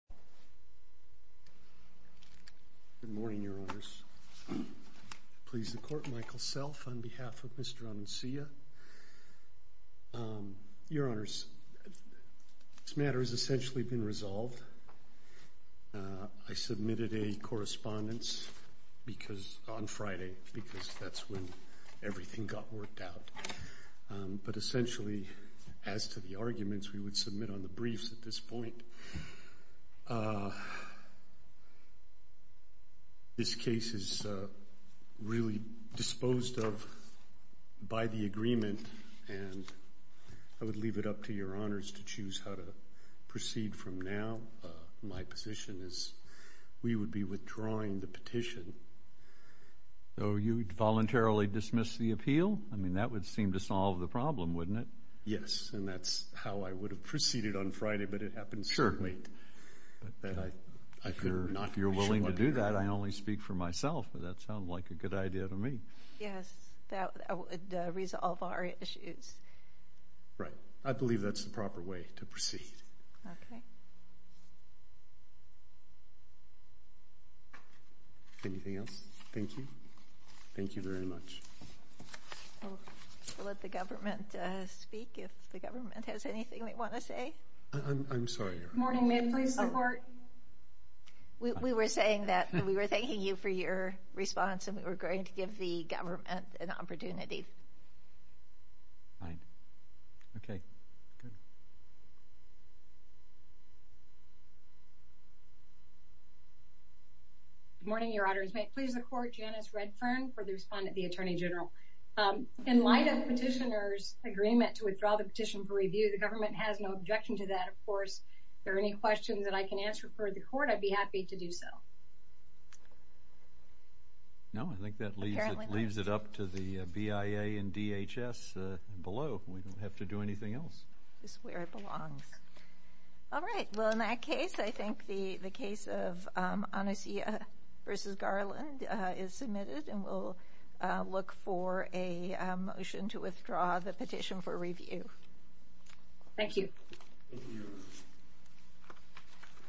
Good morning, Your Honors. I please the Court, Michael Self, on behalf of Mr. Anucilla. Your Honors, this matter has essentially been resolved. I submitted a correspondence on Friday because that's when everything got worked out. But essentially, as to the arguments, we would agree. This case is really disposed of by the agreement, and I would leave it up to Your Honors to choose how to proceed from now. My position is we would be withdrawing the petition. The Convener So you'd voluntarily dismiss the appeal? I mean, that would seem to solve the problem, wouldn't it? Michael Self That's how I would have proceeded on Friday, but it happened so late. The Convener Sure. If you're willing to do that, I only speak for myself, but that sounds like a good idea to me. Ann Marie Yes, that would resolve our issues. Michael Self Right. I believe that's the proper way to proceed. Ann Marie Okay. The Convener Anything else? Thank you. Thank you very much. Ann Marie I'll let the government speak, if the government has anything they want to say. Michael Self I'm sorry. Ann Marie Good morning. May it please the Court? Ann Marie We were saying that we were thanking you for your response, and we were going to give the government an opportunity. Michael Self Fine. Okay. Good. Janice Redfern Good morning, Your Honors. May it please the Court? Janice Redfern for the respondent, the Attorney General. In light of the petitioner's agreement to withdraw the petition for review, the government has no objection to that. Of course, if there are any questions that I can answer for the Court, I'd be happy to do so. Michael Self No, I think that leaves it up to the BIA and DHS below. We don't have to do anything else. Ann Marie This is where it belongs. All right. Well, in that case, I think the case of Onesea v. Garland is submitted, and we'll look for a motion to withdraw the petition for review. Janice Redfern Thank you. Michael Self Thank you.